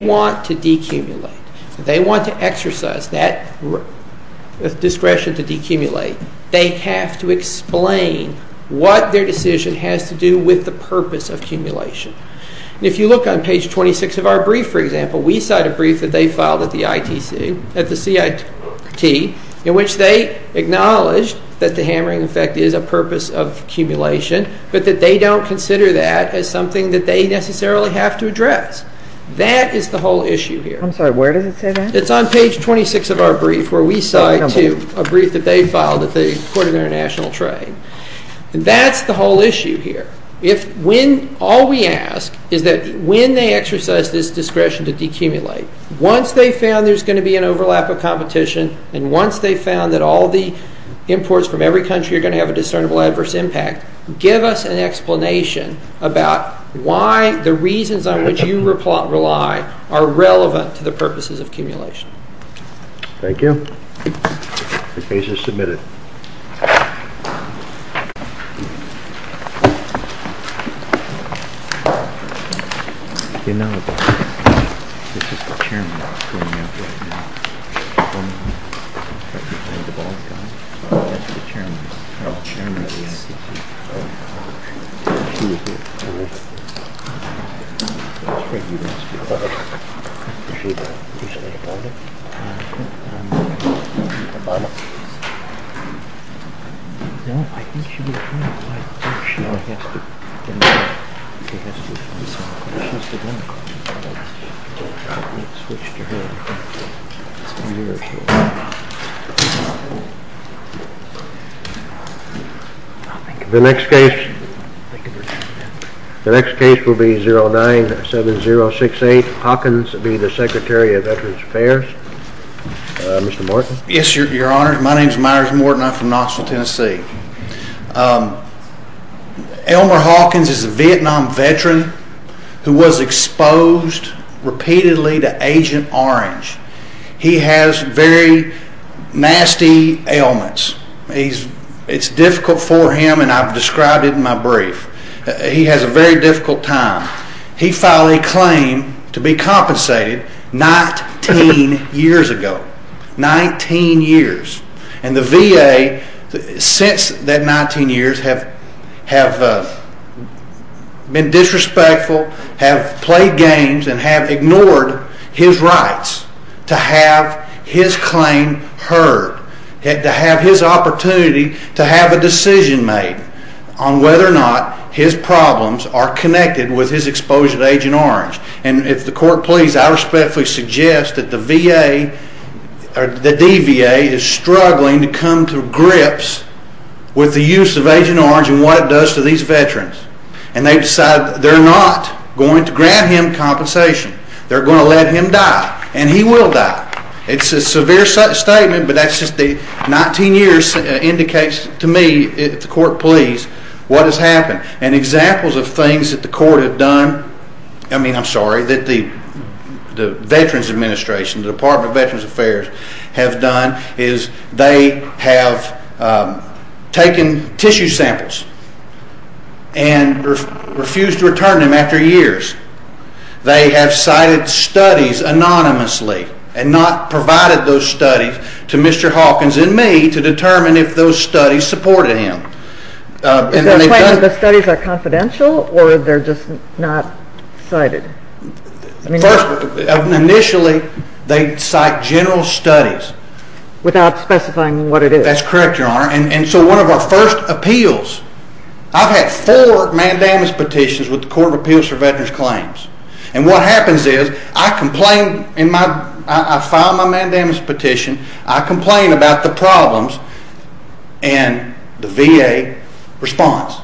They want to decumulate. They want to exercise that discretion to decumulate. They have to explain what their decision has to do with the purpose of accumulation. If you look on page 26 of our brief, for example, we cite a brief that they filed at the CIT in which they acknowledged that the hammering effect is a purpose of accumulation, but that they don't consider that as something that they necessarily have to address. That is the whole issue here. I'm sorry, where does it say that? It's on page 26 of our brief where we cite a brief that they filed at the Court of International Trade. That's the whole issue here. All we ask is that when they exercise this discretion to decumulate, once they've found there's going to be an overlap of competition, and once they've found that all the imports from every country are going to have a discernible adverse impact, give us an explanation about why the reasons on which you rely are relevant to the purposes of accumulation. Thank you. The case is submitted. The next case will be 097068. Hawkins will be the Secretary of Veterans Affairs. Mr. Morton. Yes, Your Honor. My name is Myers Morton. I'm from Knoxville, Tennessee. Elmer Hawkins is a Vietnam veteran who was exposed repeatedly to Agent Orange. He has very nasty ailments. It's difficult for him, and I've described it in my brief. He has a very difficult time. He filed a claim to be compensated 19 years ago. 19 years. And the VA, since that 19 years, have been disrespectful, have played games, and have ignored his rights to have his claim heard, to have his opportunity to have a decision made on whether or not his problems are connected with his exposure to Agent Orange. And if the court please, I respectfully suggest that the VA, or the DVA, is struggling to come to grips with the use of Agent Orange and what it does to these veterans. And they've decided they're not going to grant him compensation. They're going to let him die, and he will die. It's a severe statement, but that's just the 19 years indicates to me, if the court please, what has happened. And examples of things that the court have done, I mean, I'm sorry, that the Veterans Administration, the Department of Veterans Affairs, have done is they have taken tissue samples and refused to return them after years. They have cited studies anonymously and not provided those studies to Mr. Hawkins and me to determine if those studies supported him. Is that claim that the studies are confidential, or they're just not cited? First, initially, they cite general studies. Without specifying what it is? That's correct, Your Honor. And so one of our first appeals, I've had four mandamus petitions with the Court of Appeals for Veterans Claims. And what happens is I file my mandamus petition, I complain about the problems, and the VA responds.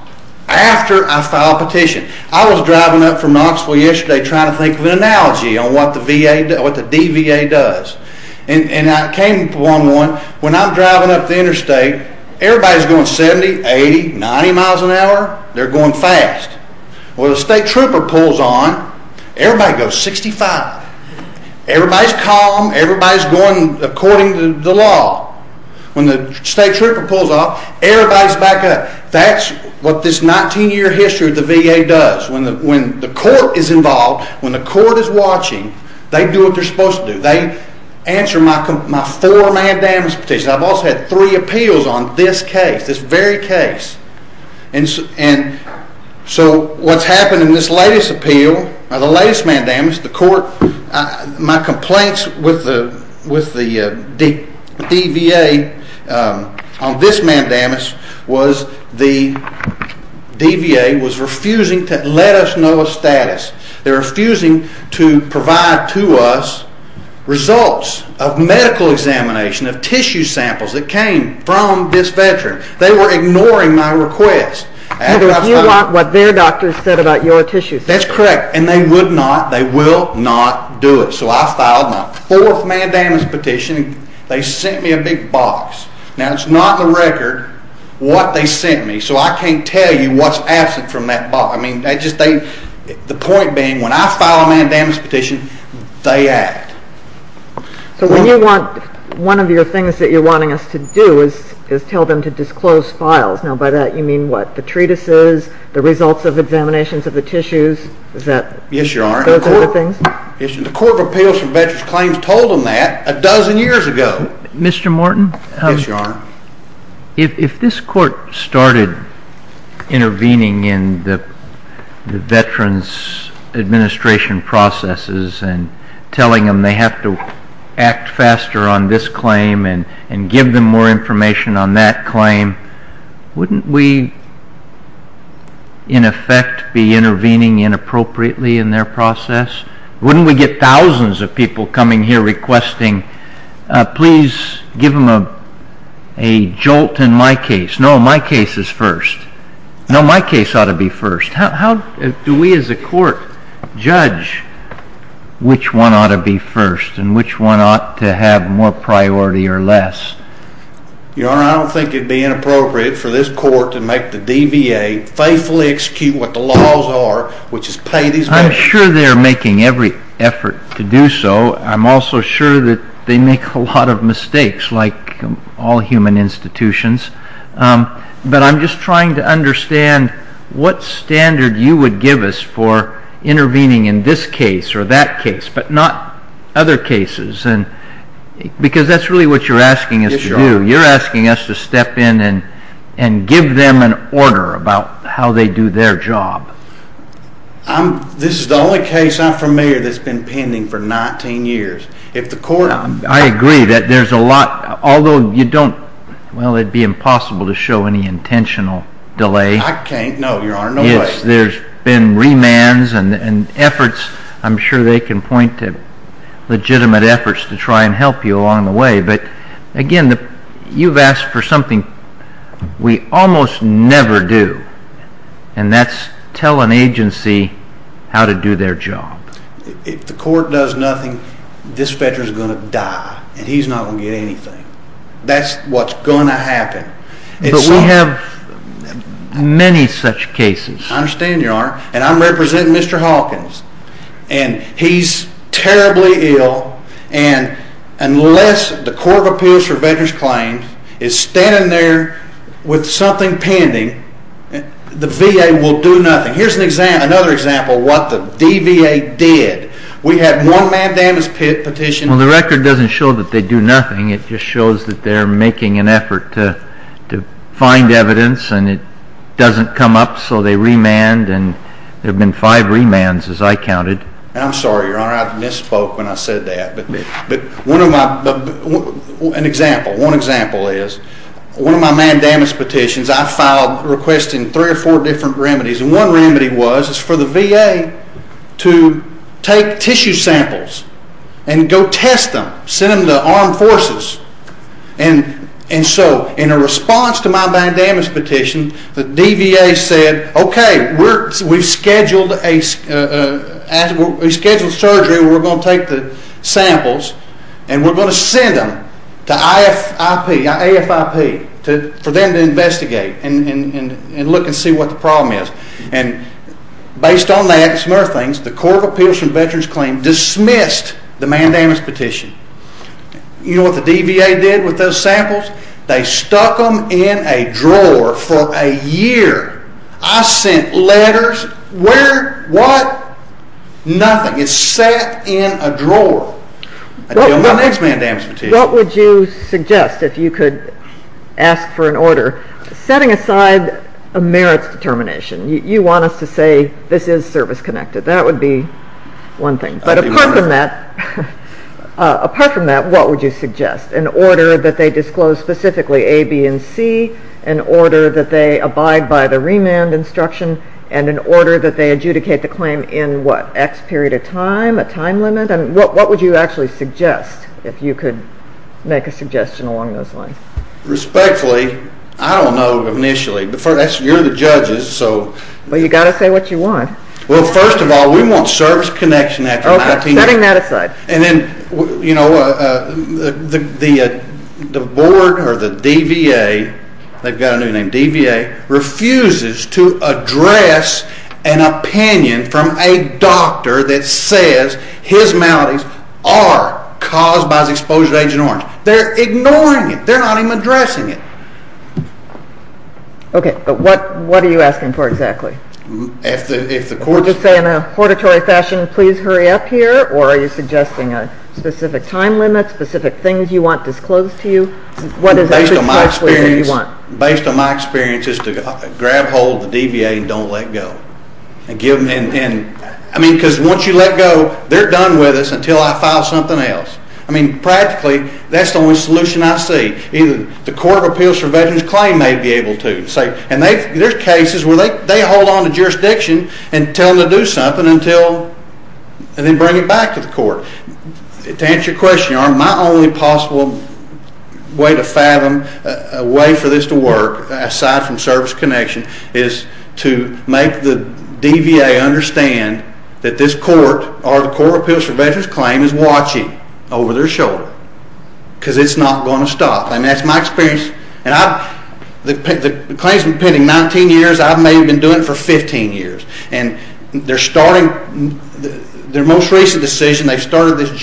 After I file a petition. I was driving up from Knoxville yesterday trying to think of an analogy on what the DVA does. And I came to one, when I'm driving up the interstate, everybody's going 70, 80, 90 miles an hour. They're going fast. Well, the state trooper pulls on, everybody goes 65. Everybody's calm, everybody's going according to the law. When the state trooper pulls off, everybody's back up. That's what this 19-year history of the VA does. When the court is involved, when the court is watching, they do what they're supposed to do. They answer my four mandamus petitions. I've also had three appeals on this case, this very case. And so what's happened in this latest appeal, the latest mandamus, the court, my complaints with the DVA on this mandamus was the DVA was refusing to let us know of status. They're refusing to provide to us results of medical examination of tissue samples that came from this veteran. They were ignoring my request. You want what their doctors said about your tissue samples. That's correct. And they would not, they will not do it. So I filed my fourth mandamus petition. They sent me a big box. Now, it's not in the record what they sent me, so I can't tell you what's absent from that box. The point being, when I file a mandamus petition, they act. So when you want, one of your things that you're wanting us to do is tell them to disclose files. Now, by that you mean what, the treatises, the results of examinations of the tissues? Yes, Your Honor. Those other things? The Court of Appeals for Veterans Claims told them that a dozen years ago. Mr. Morton? Yes, Your Honor. If this court started intervening in the veterans' administration processes and telling them they have to act faster on this claim and give them more information on that claim, wouldn't we, in effect, be intervening inappropriately in their process? Wouldn't we get thousands of people coming here requesting, please give them a jolt in my case? No, my case is first. No, my case ought to be first. How do we as a court judge which one ought to be first and which one ought to have more priority or less? Your Honor, I don't think it would be inappropriate for this court to make the DVA, faithfully execute what the laws are, which is pay these veterans. I'm sure they're making every effort to do so. I'm also sure that they make a lot of mistakes, like all human institutions. But I'm just trying to understand what standard you would give us for intervening in this case or that case, but not other cases, because that's really what you're asking us to do. Yes, Your Honor. and give them an order about how they do their job. This is the only case I'm familiar that's been pending for 19 years. I agree that there's a lot, although you don't, well, it would be impossible to show any intentional delay. I can't, no, Your Honor, no way. Yes, there's been remands and efforts. I'm sure they can point to legitimate efforts to try and help you along the way. But, again, you've asked for something we almost never do, and that's tell an agency how to do their job. If the court does nothing, this veteran's going to die, and he's not going to get anything. That's what's going to happen. But we have many such cases. I understand, Your Honor, and I'm representing Mr. Hawkins, and he's terribly ill, and unless the Court of Appeals for Veterans Claims is standing there with something pending, the VA will do nothing. Here's another example of what the DVA did. We had one manned damage petition. Well, the record doesn't show that they do nothing. It just shows that they're making an effort to find evidence, and it doesn't come up, so they remand, and there have been five remands, as I counted. I'm sorry, Your Honor, I misspoke when I said that. But one example is one of my manned damage petitions I filed requesting three or four different remedies, and one remedy was for the VA to take tissue samples and go test them, send them to armed forces. And so in a response to my manned damage petition, the DVA said, okay, we've scheduled surgery where we're going to take the samples, and we're going to send them to AFIP for them to investigate and look and see what the problem is. And based on that and some other things, the Court of Appeals for Veterans Claims dismissed the manned damage petition. You know what the DVA did with those samples? They stuck them in a drawer for a year. I sent letters. Where? What? Nothing. It sat in a drawer until my next manned damage petition. What would you suggest if you could ask for an order setting aside a merits determination? You want us to say this is service-connected. That would be one thing. But apart from that, what would you suggest? An order that they disclose specifically A, B, and C, an order that they abide by the remand instruction, and an order that they adjudicate the claim in what, X period of time, a time limit? What would you actually suggest if you could make a suggestion along those lines? Respectfully, I don't know initially. You're the judges, so. Well, you've got to say what you want. Well, first of all, we want service connection after 19 years. Okay, setting that aside. And then, you know, the board or the DVA, they've got a new name, DVA refuses to address an opinion from a doctor that says his maladies are caused by his exposure to Agent Orange. They're ignoring it. They're not even addressing it. Okay, but what are you asking for exactly? Would you say in a hortatory fashion, please hurry up here, or are you suggesting a specific time limit, specific things you want disclosed to you? Based on my experience, it's to grab hold of the DVA and don't let go. I mean, because once you let go, they're done with us until I file something else. I mean, practically, that's the only solution I see. The Court of Appeals for Veterans Claim may be able to. And there's cases where they hold on to jurisdiction and tell them to do something and then bring it back to the court. To answer your question, my only possible way to fathom a way for this to work, aside from service connection, is to make the DVA understand that this court or the Court of Appeals for Veterans Claim is watching over their shoulder because it's not going to stop. I mean, that's my experience. And the claims have been pending 19 years. I may have been doing it for 15 years. And they're starting their most recent decision. They've started this just recently.